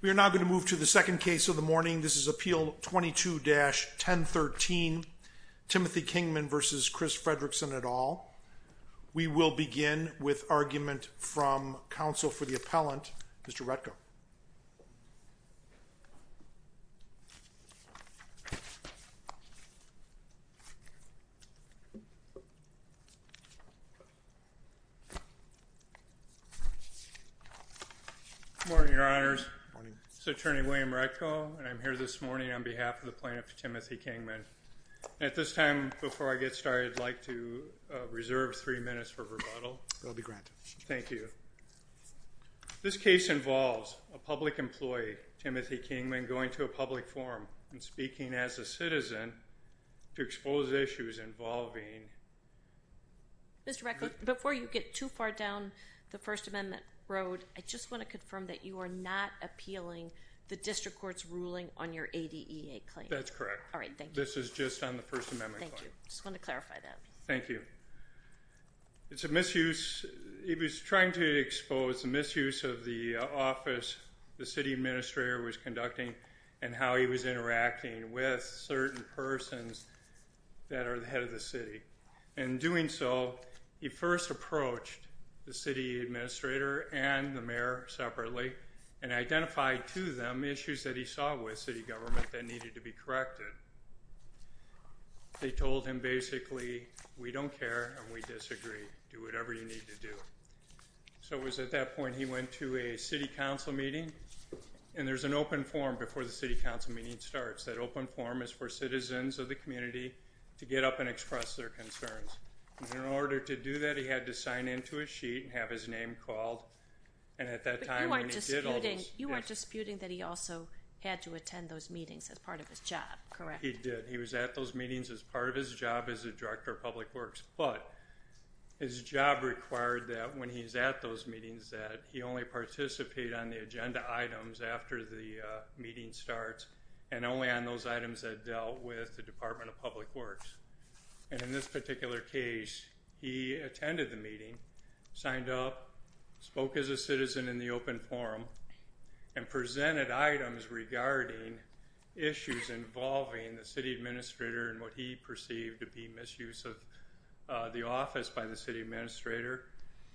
We are now going to move to the second case of the morning. This is Appeal 22-1013, Timothy Kingman v. William Retko. We will begin with argument from counsel for the appellant, Mr. Retko. William Retko Good morning, Your Honors. This is Attorney William Retko, and I'm here this morning on behalf of the plaintiff, Timothy Kingman. At this time, before I get started, I'd like to reserve three minutes for rebuttal. Timothy Kingman I'll be granted. William Retko Thank you. This case involves a public employee, Timothy Kingman, going to a public forum and speaking as a citizen to expose issues involving – Judge Cardone Mr. Retko, before you get too far down the First Amendment road, I just want to confirm that you are not appealing the district court's ruling on your ADEA claim? William Retko That's correct. Judge Cardone All right. Thank you. William Retko This is just on the First Amendment. Judge Cardone Thank you. I just want to clarify that. William Retko Thank you. It's a misuse – he was trying to expose a misuse of the office the city administrator was conducting and how he was interacting with certain persons that are the head of the city. In doing so, he first approached the city administrator and the mayor separately and identified to them issues that he saw with city government that needed to be corrected. They told him basically, we don't care and we disagree. Do whatever you need to do. So it was at that point he went to a city council meeting, and there's an open forum before the city council meeting starts. That open forum is for citizens of the community to get up and express their concerns. In order to do that, he had to sign into a sheet and have his name called, and at that time – Judge Cardone You weren't disputing that he also had to attend those meetings as part of his job, correct? William Retko He did. He was at those meetings as part of his job as a director of public works, but his job required that when he's at those meetings that he only participate on the agenda items after the meeting starts and only on those items that dealt with the Department of Public Works. In this particular case, he attended the meeting, signed up, spoke as a citizen in the open forum, and presented items regarding issues involving the city administrator and what he perceived to be misuse of the office by the city administrator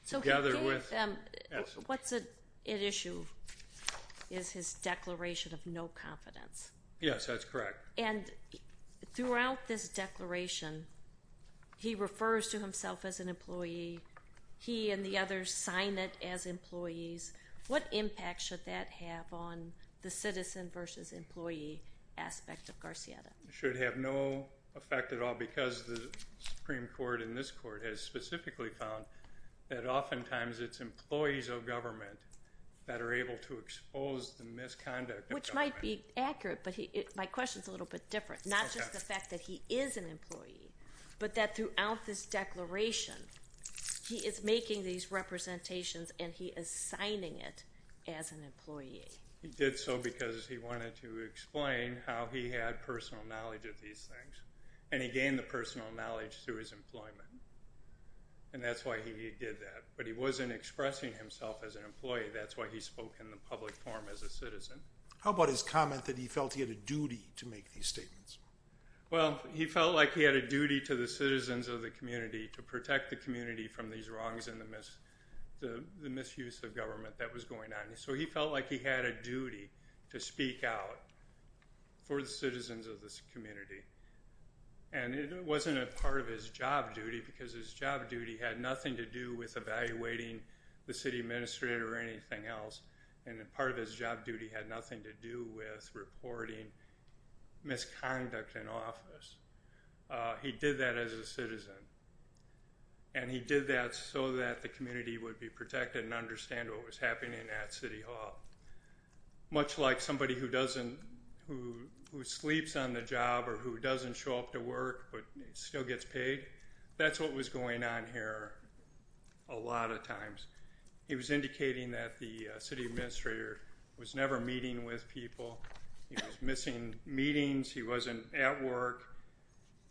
together with – Judge Cardone So he gave them – what's at issue is his declaration of no confidence. William Retko Yes, that's correct. Judge Cardone And throughout this declaration, he refers to himself as an employee. He and the others sign it as employees. What impact should that have on the citizen versus employee aspect of Garcieta? William Retko It should have no effect at all because the Supreme Court in this court has specifically found that oftentimes it's employees of government that are able to expose the misconduct of government. Judge Cardone It might be accurate, but my question is a little bit different. Not just the fact that he is an employee, but that throughout this declaration, he is making these representations and he is signing it as an employee. William Retko He did so because he wanted to explain how he had personal knowledge of these things, and he gained the personal knowledge through his employment, and that's why he did that. But he wasn't expressing himself as an employee. That's why he spoke in the public forum as a citizen. How about his comment that he felt he had a duty to make these statements? William Retko Well, he felt like he had a duty to the citizens of the community to protect the community from these wrongs and the misuse of government that was going on. He felt like he had a duty to speak out for the citizens of this community, and it wasn't a part of his job duty because his job duty had nothing to do with evaluating the city administrator or anything else, and a part of his job duty had nothing to do with reporting misconduct in office. He did that as a citizen, and he did that so that the community would be protected and understand what was happening at City Hall. Much like somebody who sleeps on the job or who doesn't show up to work but still gets paid, that's what was going on here a lot of times. He was indicating that the city administrator was never meeting with people. He was missing meetings. He wasn't at work,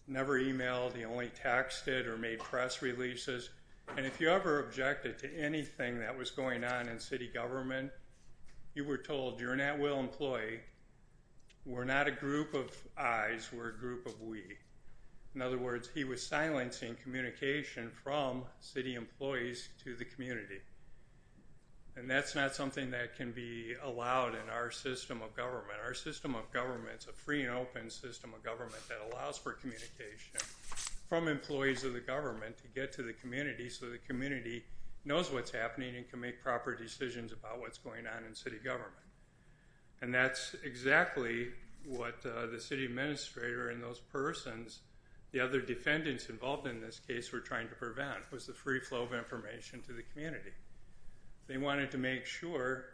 never emailed. He only texted or made press releases, and if you ever objected to anything that was going on in city government, you were told, you're an at-will employee. We're not a group of I's. We're a group of we. In other words, he was silencing communication from city employees to the community, and that's not something that can be allowed in our system of government. Our system of government is a free and open system of government that allows for communication from employees of the government to get to the community so the community knows what's happening and can make proper decisions about what's going on in city government, and that's exactly what the city administrator and those persons, the other defendants involved in this case, were trying to prevent was the free flow of information to the community. They wanted to make sure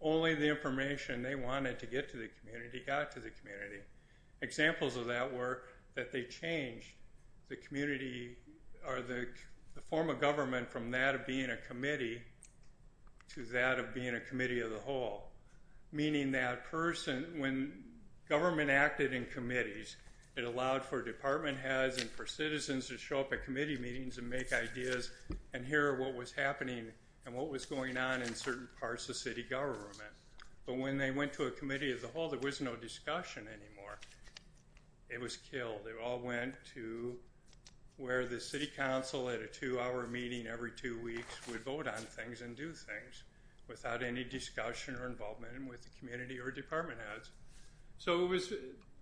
only the information they wanted to get to the community got to the community. Examples of that were that they changed the community or the form of government from that of being a committee to that of being a committee of the whole, meaning that person, when government acted in committees, it allowed for department heads and for citizens to show up at committee meetings and make ideas and hear what was happening and what was going on in certain parts of city government, but when they went to a committee of the whole, there was no discussion anymore. It was killed. It all went to where the city council at a two-hour meeting every two weeks would vote on things and do things without any discussion or involvement with the community or department heads. So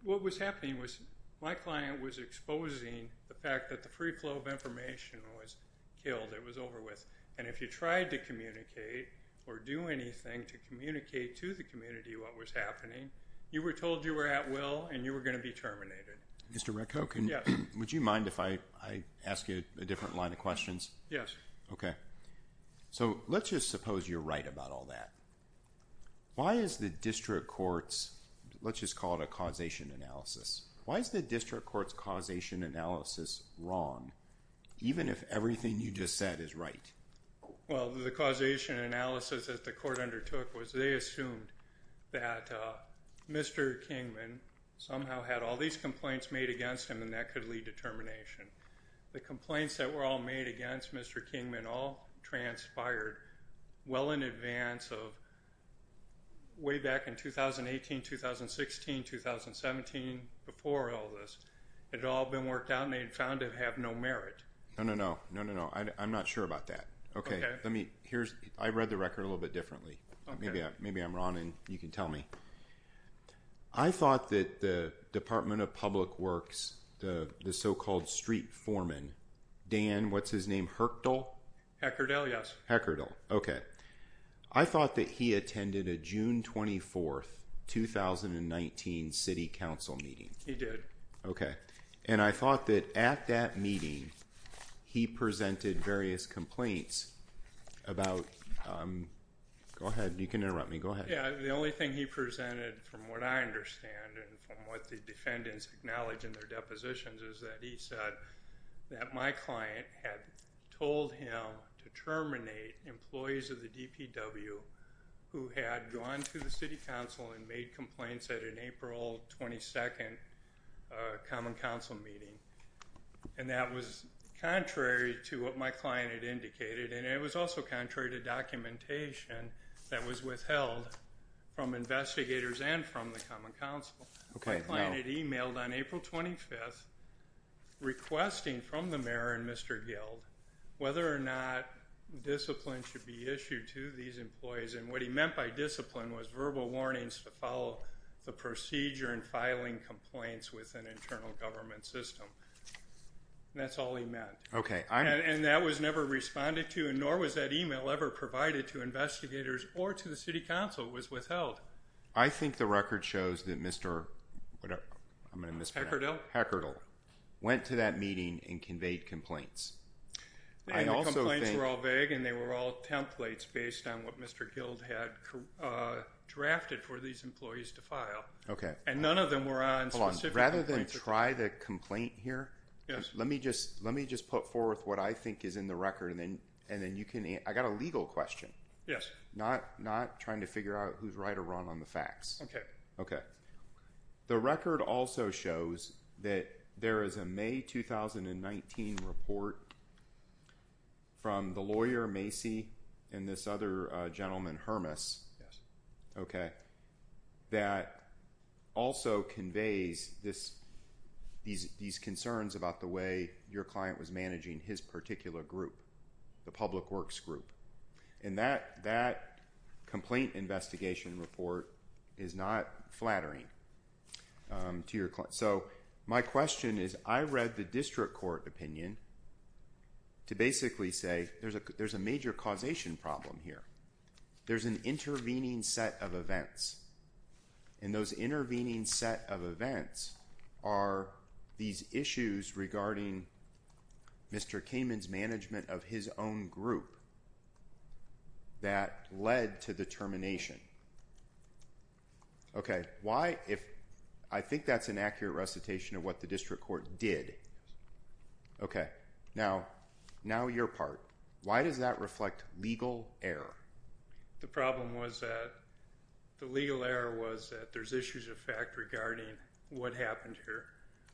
what was happening was my client was exposing the fact that the free flow of information was killed. It was over with, and if you tried to communicate or do anything to communicate to the community what was happening, you were told you were at will and you were going to be terminated. Mr. Retko, would you mind if I ask you a different line of questions? Yes. Okay. So let's just suppose you're right about all that. Why is the district court's, let's just call it a causation analysis, why is the district court's causation analysis wrong, even if everything you just said is right? Well, the causation analysis that the court undertook was they assumed that Mr. Kingman somehow had all these complaints made against him and that could lead to termination. The all transpired well in advance of way back in 2018, 2016, 2017, before all this. It had all been worked out and they found it to have no merit. No, no, no. No, no, no. I'm not sure about that. Okay. I read the record a little bit differently. Maybe I'm wrong and you can tell me. I thought that the Department of Public Affairs, I thought that he attended a June 24th, 2019 city council meeting. He did. Okay. And I thought that at that meeting, he presented various complaints about, go ahead. You can interrupt me. Go ahead. Yeah. The only thing he presented from what I understand and from what the defendants acknowledge in their depositions is that he said that my client had told him to terminate employees of the DPW who had gone through the city council and made complaints at an April 22nd common council meeting. And that was contrary to what my client had indicated. And it was also contrary to documentation that was withheld from investigators and from the city council on April 25th requesting from the mayor and Mr. Guild whether or not discipline should be issued to these employees. And what he meant by discipline was verbal warnings to follow the procedure and filing complaints with an internal government system. That's all he meant. Okay. And that was never responded to, and nor was that email ever provided to investigators or to the city council. It was withheld. I think the record shows that Mr. Heckerdell went to that meeting and conveyed complaints. And the complaints were all vague and they were all templates based on what Mr. Guild had drafted for these employees to file. And none of them were on specific complaints. Rather than try the complaint here, let me just put forth what I think is in the record, and then you can answer. I got a legal question. Yes. Not trying to figure out who's right or wrong on the facts. Okay. Okay. The record also shows that there is a May 2019 report from the lawyer, Macy, and this other gentleman, Hermas, that also conveys these concerns about the way your client was managing his particular group, the public works group. And that complaint investigation report is not flattering to your client. So my question is, I read the district court opinion to basically say there's a major causation problem here. There's an intervening set of events. And those intervening set of events are these issues regarding Mr. Kamen's management of his own group that led to the termination. Okay. Why? I think that's an accurate recitation of what the district court did. Okay. Now your part. Why does that reflect legal error? The problem was that the legal error was that there's issues of fact regarding what happened here.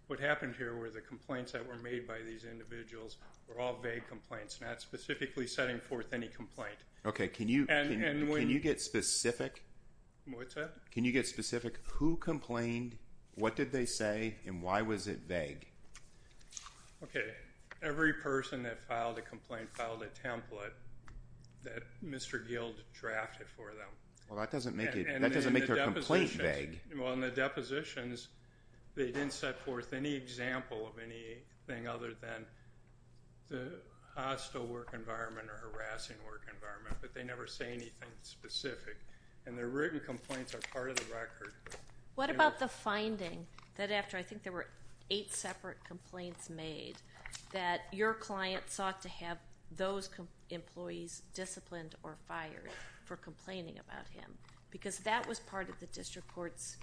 What happened here were the complaints that were made by these individuals were all vague complaints, not specifically setting forth any complaint. Okay. Can you get specific? What's that? Can you get specific? Who complained? What did they say? And why was it vague? Okay. Every person that filed a complaint filed a template that Mr. Guild drafted for them. Well, that doesn't make their complaint vague. Well, in the depositions, they didn't set forth any example of anything other than the hostile work environment or harassing work environment, but they never say anything specific. And their written complaints are part of the record. What about the finding that after I think there were eight separate complaints made that your client sought to have those employees disciplined or fired for complaining about him? Because that was part of the district court's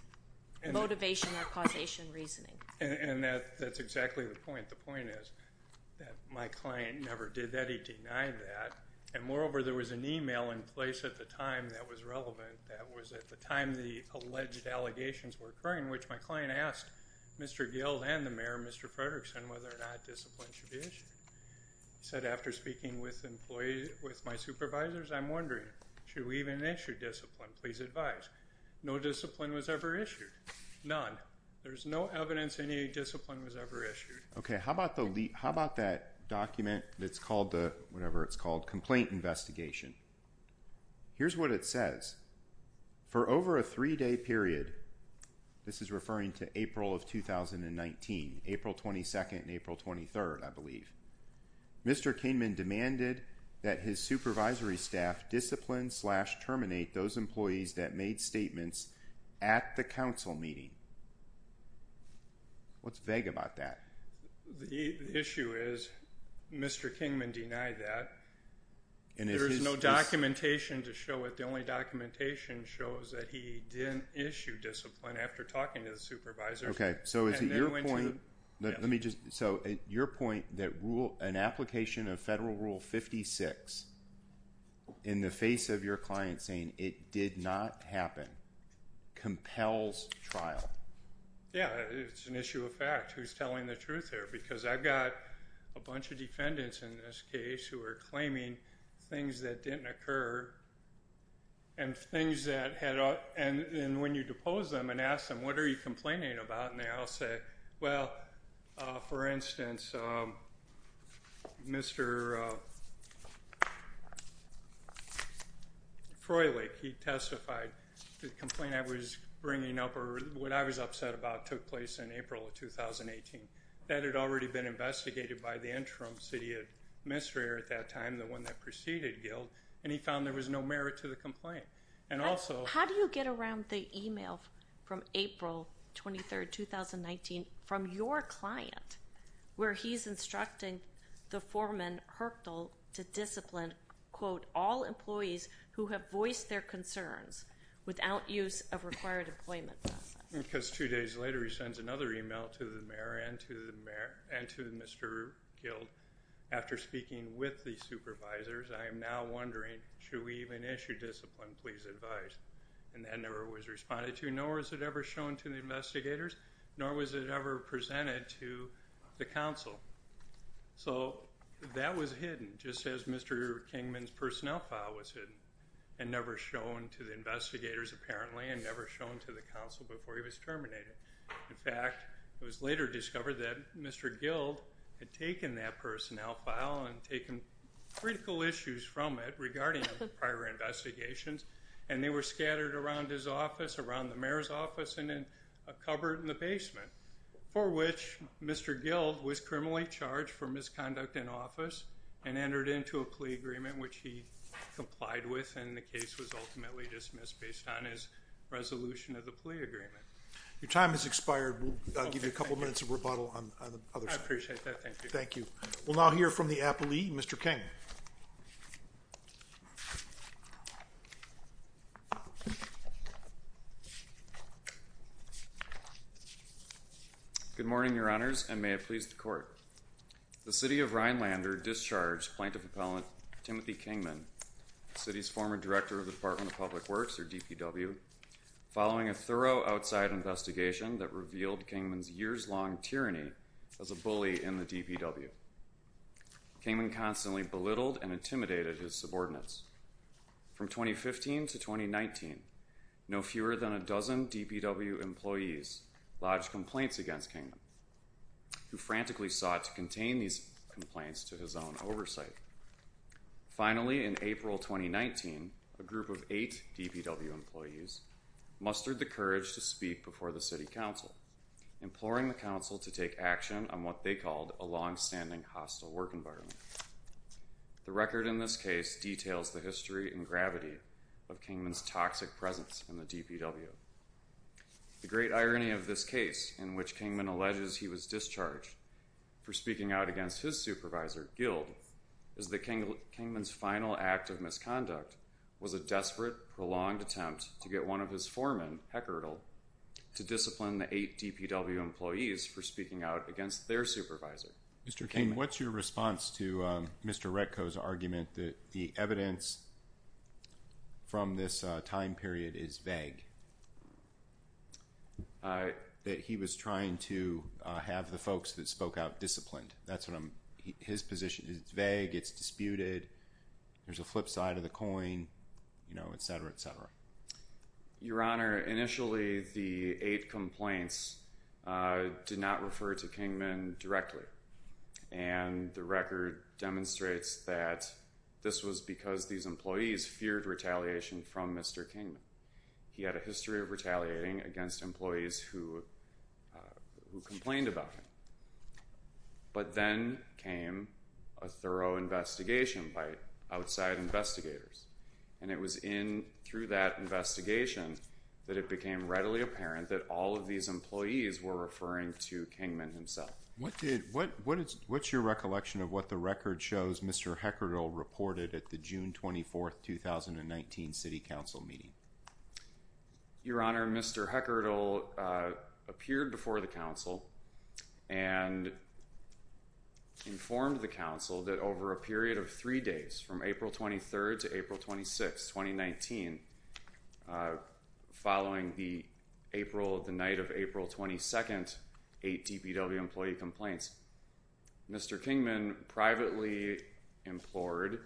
motivation or causation reasoning. And that's exactly the point. The point is that my client never did that. He denied that. And moreover, there was an email in place at the time that was relevant. That was at the time the alleged allegations were occurring, which my client asked Mr. Guild and the mayor, Mr. Frederickson, whether or not discipline should be issued. He said, after speaking with my supervisors, I'm wondering, should we even issue discipline? Please advise. No discipline was ever issued. None. There's no evidence any discipline was ever issued. Okay, how about that document that's called the, whatever it's called, complaint investigation. Here's what it says. For over a three-day period, this is referring to April of 2019, April 22nd and April 23rd, I believe. Mr. Kingman demanded that his supervisory staff discipline slash terminate those employees that made statements at the council meeting. What's vague about that? The issue is Mr. Kingman denied that. And there is no documentation to show it. The only documentation shows that he didn't issue discipline after talking to the supervisor. Okay, so is it your point? Let me just, so your point that rule, an application of federal rule 56 in the face of your client saying it did not happen compels trial. Yeah, it's an issue of fact. Who's telling the truth here? Because I've got a bunch of defendants in this case who are claiming things that didn't occur and things that had, and when you depose them and ask them, what are you complaining about? And they all say, well, for instance, Mr. Froehlich, he testified, the complaint I was bringing up, or what I was upset about, took place in April of 2018. That had already been investigated by the interim city administrator at that time, the one that preceded Guild, and he found there was no merit to the complaint. How do you get around the email from April 23rd, 2019, from your client, where he's instructing the foreman Hertel to discipline, quote, all employees who have voiced their concerns without use of required employment process? Because two days later, he sends another email to the mayor and to Mr. Guild. After speaking with the supervisors, I am now wondering, should we even issue discipline? Please advise. And that never was responded to, nor was it ever shown to the investigators, nor was it ever presented to the council. So that was hidden, just as Mr. Kingman's personnel file was hidden, and never shown to the investigators, apparently, and never shown to the council before he was terminated. In fact, it was later discovered that Mr. Guild had taken that personnel file and taken critical issues from it regarding prior investigations, and they were scattered around his office, around the mayor's office, and in a cupboard in the basement, for which Mr. Guild was criminally charged for misconduct in office and entered into a plea agreement, which he complied with, and the case was ultimately dismissed based on his resolution of the plea agreement. Your time has expired. We'll give you a couple minutes of rebuttal on the other side. I appreciate that. Thank you. Thank you. We'll now hear from the appellee, Mr. Kingman. Good morning, your honors, and may it please the court. The city of Rhinelander discharged plaintiff appellant Timothy Kingman, city's former director of the Department of Public Works, or DPW, following a thorough outside investigation that revealed Kingman's years-long tyranny as a bully in the DPW. Kingman constantly belittled and intimidated his subordinates. From 2015 to 2019, no fewer than a dozen DPW employees lodged complaints against Kingman, who frantically sought to contain these complaints to his own oversight. Finally, in April 2019, a group of eight DPW employees mustered the courage to speak before the city council, imploring the council to take action on what they called a long-standing hostile work environment. The record in this case details the history and gravity of Kingman's toxic presence in the DPW. The great irony of this case, in which Kingman alleges he was discharged for speaking out against his supervisor, Guild, is that Kingman's final act of misconduct was a desperate, prolonged attempt to get one of his foremen, Heckerdl, to discipline the eight DPW employees for speaking out against their supervisor. Mr. Kingman, what's your response to Mr. Retko's argument that the evidence from this time period is vague, that he was trying to have the folks that spoke out disciplined? That's what his position is. It's vague, it's disputed, there's a flip side of the coin, you know, et cetera, et cetera. Your Honor, initially, the eight complaints did not refer to Kingman directly. And the record demonstrates that this was because these employees feared retaliation from Mr. Kingman. He had a history of retaliating against employees who complained about him. But then came a thorough investigation by outside investigators. And it was in through that investigation that it became readily apparent that all of these employees were referring to Kingman himself. What's your recollection of what the record shows Mr. Heckerdl reported at the June 24th, 2019 City Council meeting? Your Honor, Mr. Heckerdl appeared before the Council and informed the Council that over a period of three days, from April 23rd to April 26th, 2019, following the night of April 22nd, eight DPW employee complaints, Mr. Kingman privately implored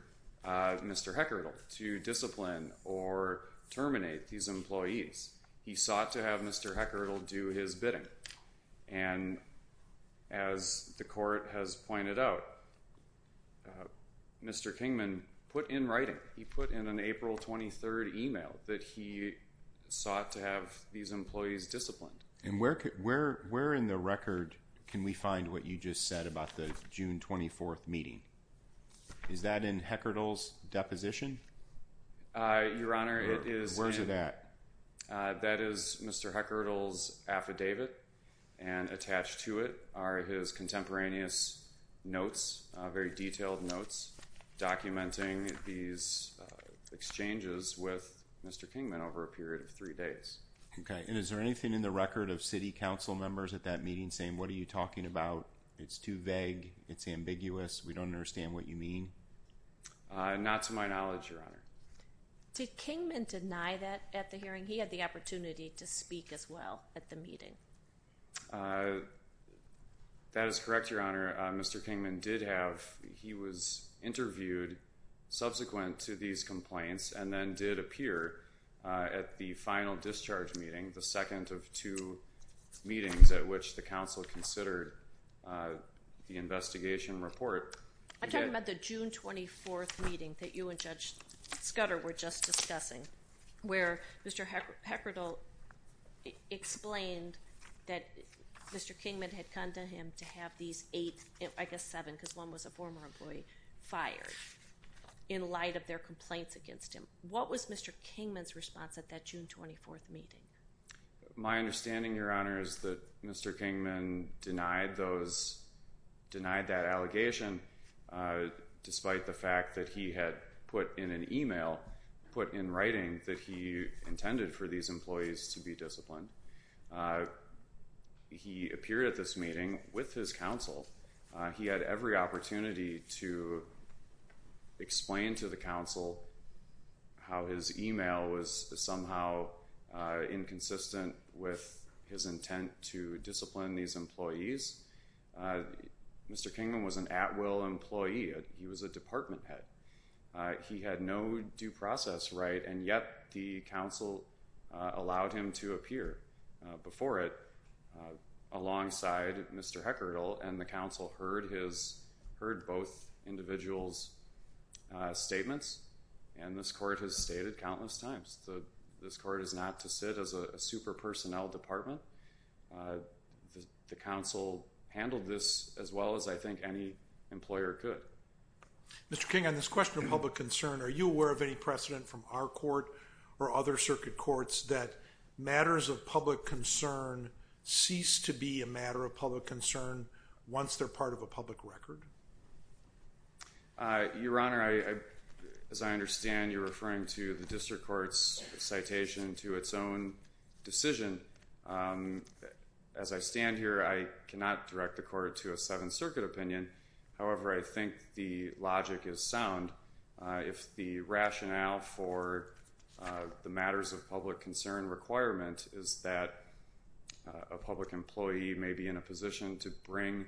Mr. Heckerdl to discipline or terminate these employees. He sought to have Mr. Heckerdl do his bidding. And as the court has pointed out, Mr. Kingman put in writing, he put in an April 23rd email that he sought to have these employees disciplined. And where in the record can we find what you just said about the June 24th meeting? Is that in Heckerdl's deposition? Your Honor, it is. Where's it at? That is Mr. Heckerdl's affidavit. And attached to it are his contemporaneous notes, very detailed notes, documenting these exchanges with Mr. Kingman over a period of three days. Okay. And is there anything in the record of City Council members at that meeting saying, what are you talking about? It's too vague. It's ambiguous. We don't understand what you mean. Not to my knowledge, Your Honor. Did Kingman deny that at the hearing? He had the opportunity to speak as well at the meeting. That is correct, Your Honor. Mr. Kingman did have, he was interviewed subsequent to these complaints and then did appear at the final discharge meeting, the second of two meetings at which the council considered the investigation report. I'm talking about the June 24th meeting that you and Judge Scudder were just discussing, where Mr. Heckerdl explained that Mr. Kingman had condemned him to have these eight, I guess seven, because one was a former employee, fired in light of their complaints against him. What was Mr. Kingman's response at that June 24th meeting? My understanding, Your Honor, is that Mr. Kingman denied that allegation despite the fact that he had put in an email, put in writing that he intended for these employees to be disciplined. Mr. Kingman, he appeared at this meeting with his council. He had every opportunity to explain to the council how his email was somehow inconsistent with his intent to discipline these employees. Mr. Kingman was an at-will employee. He was a department head. He had no due process right, and yet the council allowed him to appear. Before it, alongside Mr. Heckerdl and the council heard both individuals' statements, and this court has stated countless times that this court is not to sit as a super personnel department. The council handled this as well as I think any employer could. Mr. Kingman, this question of public concern, are you aware of any precedent from our court or other circuit courts that matters of public concern cease to be a matter of public concern once they're part of a public record? Your Honor, as I understand, you're referring to the district court's citation to its own decision. As I stand here, I cannot direct the court to a Seventh Circuit opinion. However, I think the logic is sound. If the rationale for the matters of public concern requirement is that a public employee may be in a position to bring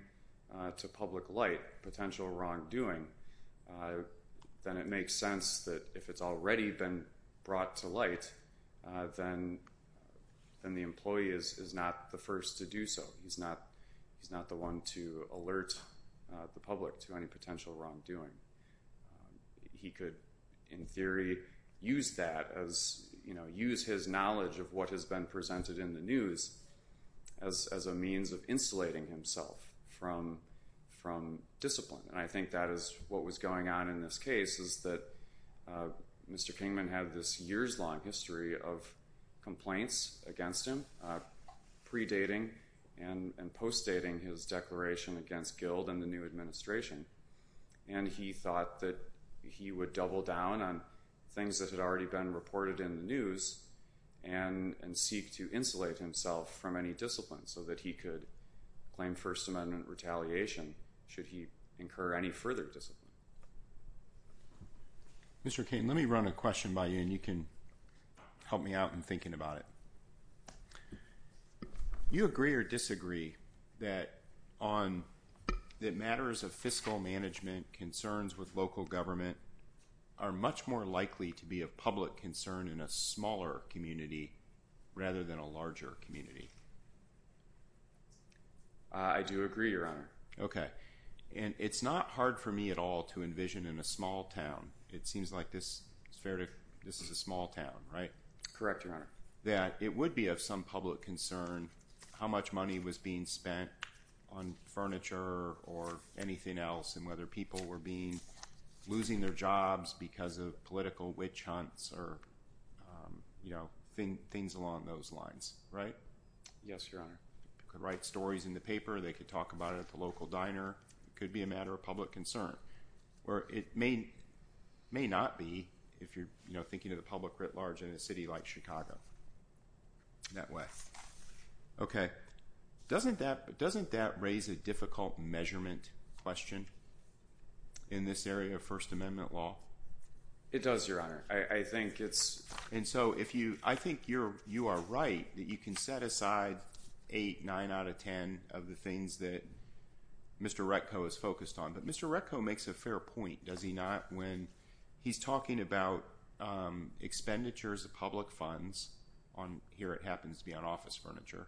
to public light potential wrongdoing, then it makes sense that if it's already been brought to light, then the employee is not the first to do so. He's not the one to alert the public to any potential wrongdoing. He could, in theory, use that as, use his knowledge of what has been presented in the news as a means of insulating himself from discipline. And I think that is what was going on in this case is that Mr. Kingman had this years-long history of complaints against him, pre-dating and post-dating his declaration against Guild and the new administration. And he thought that he would double down on things that had already been reported in the news and seek to insulate himself from any discipline so that he could claim First Amendment retaliation should he incur any further discipline. Mr. Kingman, let me run a question by you and you can help me out in thinking about it. You agree or disagree that matters of fiscal management concerns with local government are much more likely to be a public concern in a smaller community rather than a larger community? I do agree, Your Honor. Okay. And it's not hard for me at all to envision in a small town, it seems like this is fair to, this is a small town, right? Correct, Your Honor. That it would be of some public concern how much money was being spent on furniture or anything else and whether people were losing their jobs because of political witch hunts or things along those lines, right? Yes, Your Honor. You could write stories in the paper, they could talk about it at the local diner, it could be a matter of public concern. Or it may not be if you're thinking of the public writ large in a city like Chicago. In that way. Okay. Doesn't that raise a difficult measurement question in this area of First Amendment law? It does, Your Honor. I think it's... And so if you, I think you are right, that you can set aside 8, 9 out of 10 of the things that Mr. Retko is focused on. But Mr. Retko makes a fair point, does he not? When he's talking about expenditures of public funds on here, it happens to be on office furniture.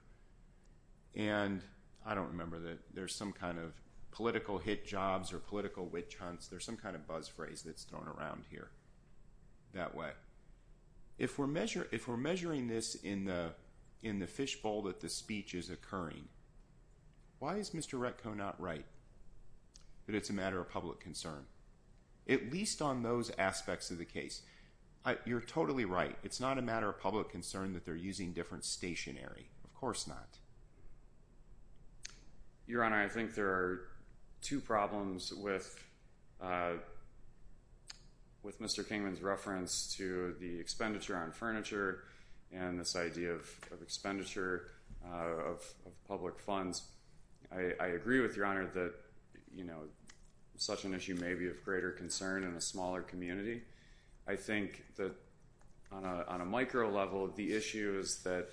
And I don't remember that there's some kind of political hit jobs or political witch hunts. There's some kind of buzz phrase that's thrown around here that way. If we're measuring this in the fishbowl that the speech is occurring, why is Mr. Retko not right? But it's a matter of public concern. At least on those aspects of the case. You're totally right. It's not a matter of public concern that they're using different stationery. Of course not. Your Honor, I think there are two problems with Mr. Kingman's reference to the expenditure on furniture and this idea of expenditure of public funds. I agree with Your Honor that such an issue may be of greater concern in a smaller community. I think that on a micro level, the issue is that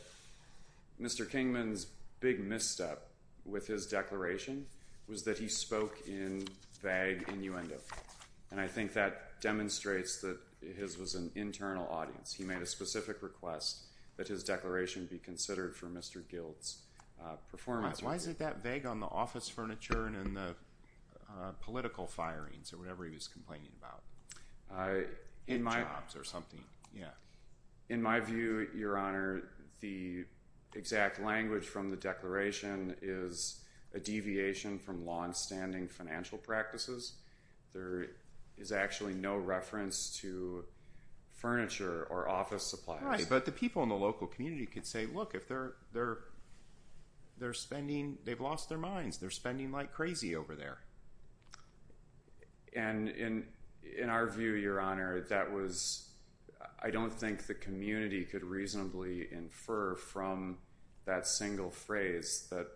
Mr. Kingman's big misstep with his declaration was that he spoke in vague innuendo. And I think that demonstrates that his was an internal audience. He made a specific request that his declaration be considered for Mr. Gild's performance. Why is it that vague on the office furniture and the political firings or whatever he was complaining about? In jobs or something. In my view, Your Honor, the exact language from the declaration is a deviation from longstanding financial practices. There is actually no reference to furniture or office supplies. But the people in the local community could say, look, they've lost their minds. They're spending like crazy over there. And in our view, Your Honor, that was, I don't think the community could reasonably infer from that single phrase that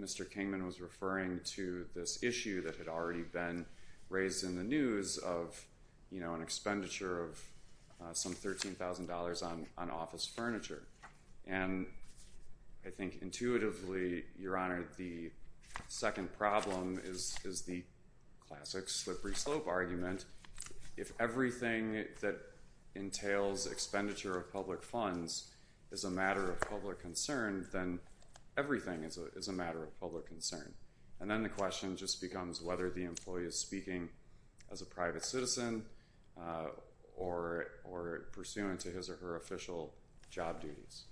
Mr. Kingman was referring to this issue that had already been raised in the news of an expenditure of some $13,000 on office furniture. And I think intuitively, Your Honor, the second problem is the classic slippery slope argument. If everything that entails expenditure of public funds is a matter of public concern, then everything is a matter of public concern. And then the question just becomes whether the employee is speaking as a private citizen or pursuant to his or her official job duties.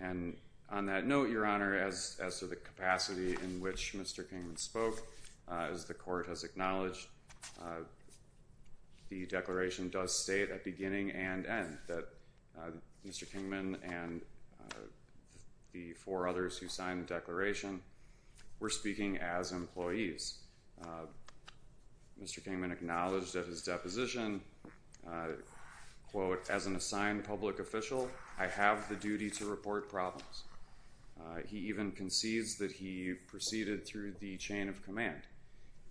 And on that note, Your Honor, as to the capacity in which Mr. Kingman spoke, as the court has acknowledged, the declaration does state at beginning and end that Mr. Kingman and the four others who signed the declaration were speaking as employees. Mr. Kingman acknowledged at his deposition, quote, as an assigned public official, I have the duty to report problems. He even concedes that he proceeded through the chain of command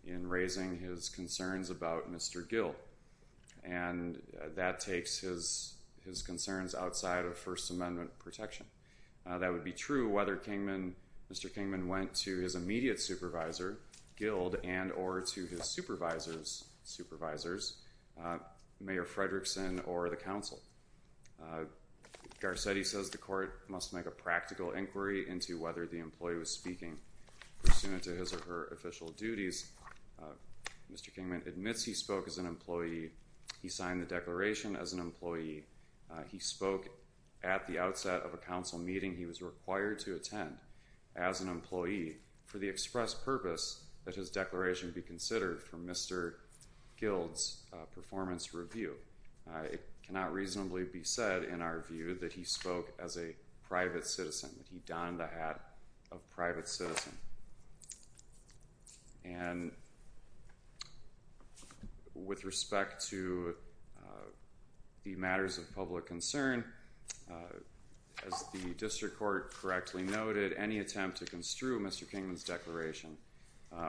in raising his concerns about Mr. Gill. And that takes his concerns outside of First Amendment protection. That would be true whether Mr. Kingman went to his immediate supervisor, Gill, and or to his supervisor's supervisors, Mayor Fredrickson or the council. Garcetti says the court must make a practical inquiry into whether the employee was speaking pursuant to his or her official duties. Mr. Kingman admits he spoke as an employee. He signed the declaration as an employee. He spoke at the outset of a council meeting. He was required to attend as an employee for the express purpose that his declaration be considered for Mr. Gill's performance review. It cannot reasonably be said in our view that he spoke as a private citizen, that he donned the hat of private citizen. And with respect to the matters of public concern, as the district court correctly noted, any attempt to construe Mr. Kingman's declaration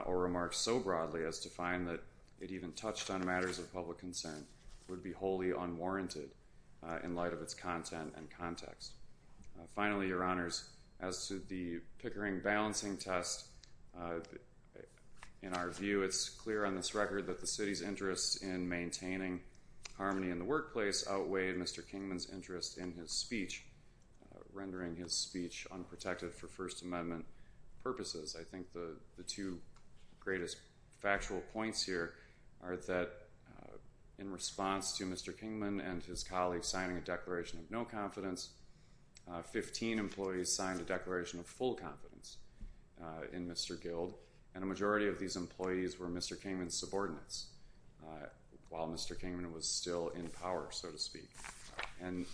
or remarks so broadly as to find that it even touched on matters of public concern would be wholly unwarranted in light of its content and context. Finally, your honors, as to the Pickering balancing test, in our view, it's clear on this record that the city's interest in maintaining harmony in the workplace outweighed Mr. Kingman's interest in his speech, rendering his speech unprotected for First Amendment purposes. I think the two greatest factual points here are that in response to Mr. Kingman and his colleagues signing a declaration of no confidence, 15 employees signed a declaration of full confidence in Mr. Gild, and a majority of these employees were Mr. Kingman's subordinates while Mr. Kingman was still in power, so to speak. And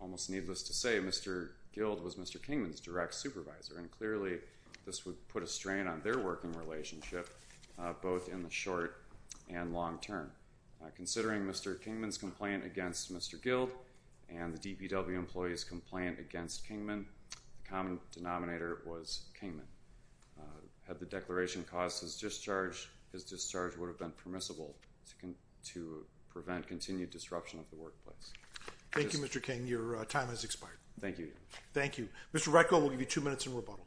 almost needless to say, Mr. Gild was Mr. Kingman's direct supervisor, and clearly this would put a strain on their working relationship, both in the short and long term. Considering Mr. Kingman's complaint against Mr. Gild and the DPW employee's complaint against Kingman, the common denominator was Kingman. Had the declaration caused his discharge, his discharge would have been permissible to prevent continued disruption of the workplace. Thank you, Mr. Kingman. Your time has expired. Thank you. Thank you. Mr. Retko, we'll give you two minutes in rebuttal.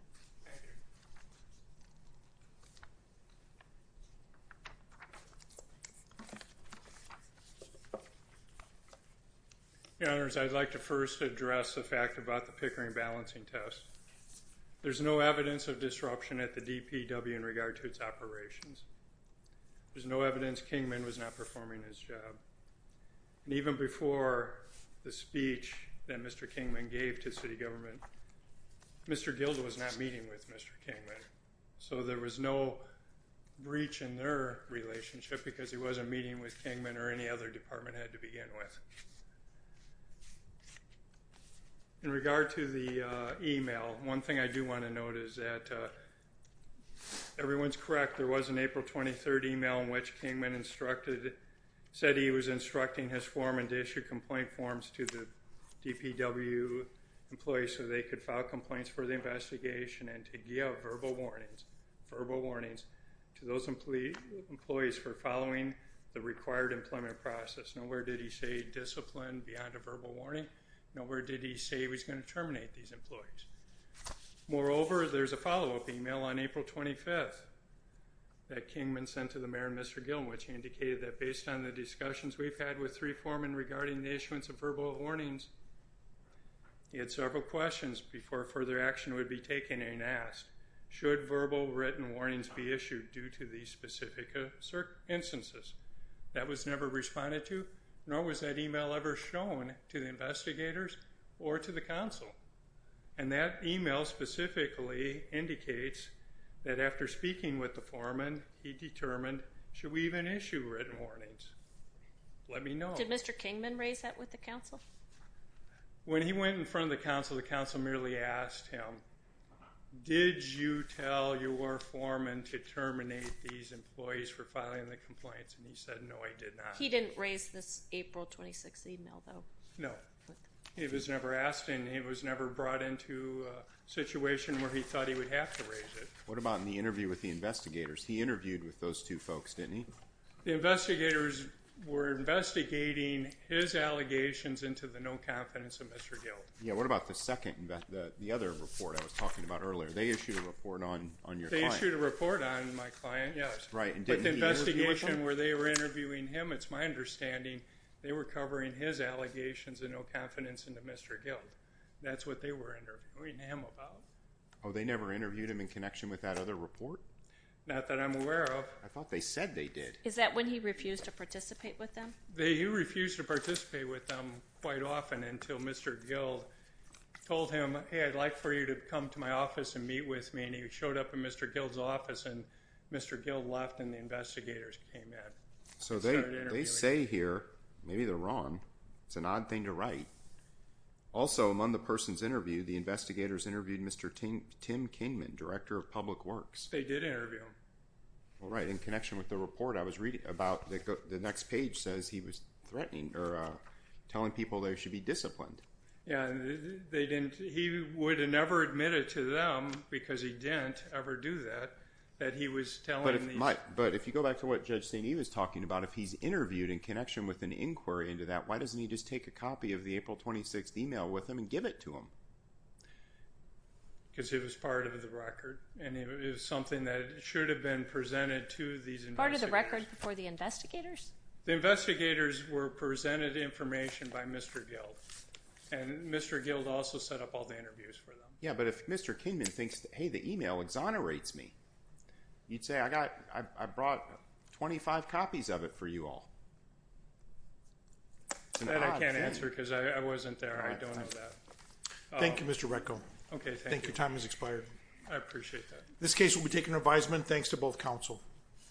Your Honors, I'd like to first address the fact about the Pickering balancing test. There's no evidence of disruption at the DPW in regard to its operations. There's no evidence Kingman was not performing his job. And even before the speech that Mr. Kingman gave to city government, Mr. Gild was not meeting with Mr. Kingman. So there was no breach in their relationship because he wasn't meeting with Kingman or any other department head to begin with. In regard to the email, one thing I do want to note is that everyone's correct. There was an April 23rd email in which Kingman instructed, said he was instructing his foreman to issue complaint forms to the DPW employees so they could file complaints for the investigation and to give verbal warnings, verbal warnings to those employees for following the required employment process. Nowhere did he say discipline beyond a verbal warning. Nowhere did he say he was going to terminate these employees. Moreover, there's a follow-up email on April 25th. That Kingman sent to the mayor and Mr. Gild, which indicated that based on the discussions we've had with three foreman regarding the issuance of verbal warnings, he had several questions before further action would be taken and asked, should verbal written warnings be issued due to these specific instances? That was never responded to, nor was that email ever shown to the investigators or to the council. And that email specifically indicates that after speaking with the foreman, he determined, should we even issue written warnings? Let me know. Did Mr. Kingman raise that with the council? When he went in front of the council, the council merely asked him, did you tell your foreman to terminate these employees for filing the complaints? And he said, no, I did not. He didn't raise this April 26th email though? No, he was never asked. And he was never brought into a situation where he thought he would have to raise it. What about in the interview with the investigators? He interviewed with those two folks, didn't he? The investigators were investigating his allegations into the no confidence of Mr. Gild. Yeah, what about the second, the other report I was talking about earlier? They issued a report on your client. They issued a report on my client, yes. Right, and didn't he interview with them? But the investigation where they were interviewing him, it's my understanding, they were covering his allegations of no confidence into Mr. Gild. That's what they were interviewing him about. Oh, they never interviewed him in connection with that other report? Not that I'm aware of. I thought they said they did. Is that when he refused to participate with them? He refused to participate with them quite often until Mr. Gild told him, hey, I'd like for you to come to my office and meet with me. And he showed up in Mr. Gild's office and Mr. Gild left and the investigators came in. So they say here, maybe they're wrong. It's an odd thing to write. Also among the person's interview, the investigators interviewed Mr. Tim Kingman, Director of Public Works. They did interview him. Right, in connection with the report I was reading about the next page says he was threatening or telling people they should be disciplined. Yeah, he would have never admitted to them because he didn't ever do that, that he was telling the- But if you go back to what Judge St. Eve is talking about, if he's interviewed in connection with an inquiry into that, why doesn't he just take a copy of the April 26th email with him and give it to him? Because it was part of the record and it was something that should have been presented to these investigators. Part of the record before the investigators? The investigators were presented information by Mr. Gild and Mr. Gild also set up all the interviews for them. Yeah, but if Mr. Kingman thinks, hey, the email exonerates me, you'd say I brought 25 copies of it for you all. That I can't answer because I wasn't there. I don't know that. Thank you, Mr. Retko. Okay, thank you. Your time has expired. I appreciate that. This case will be taken to advisement. Thanks to both counsel.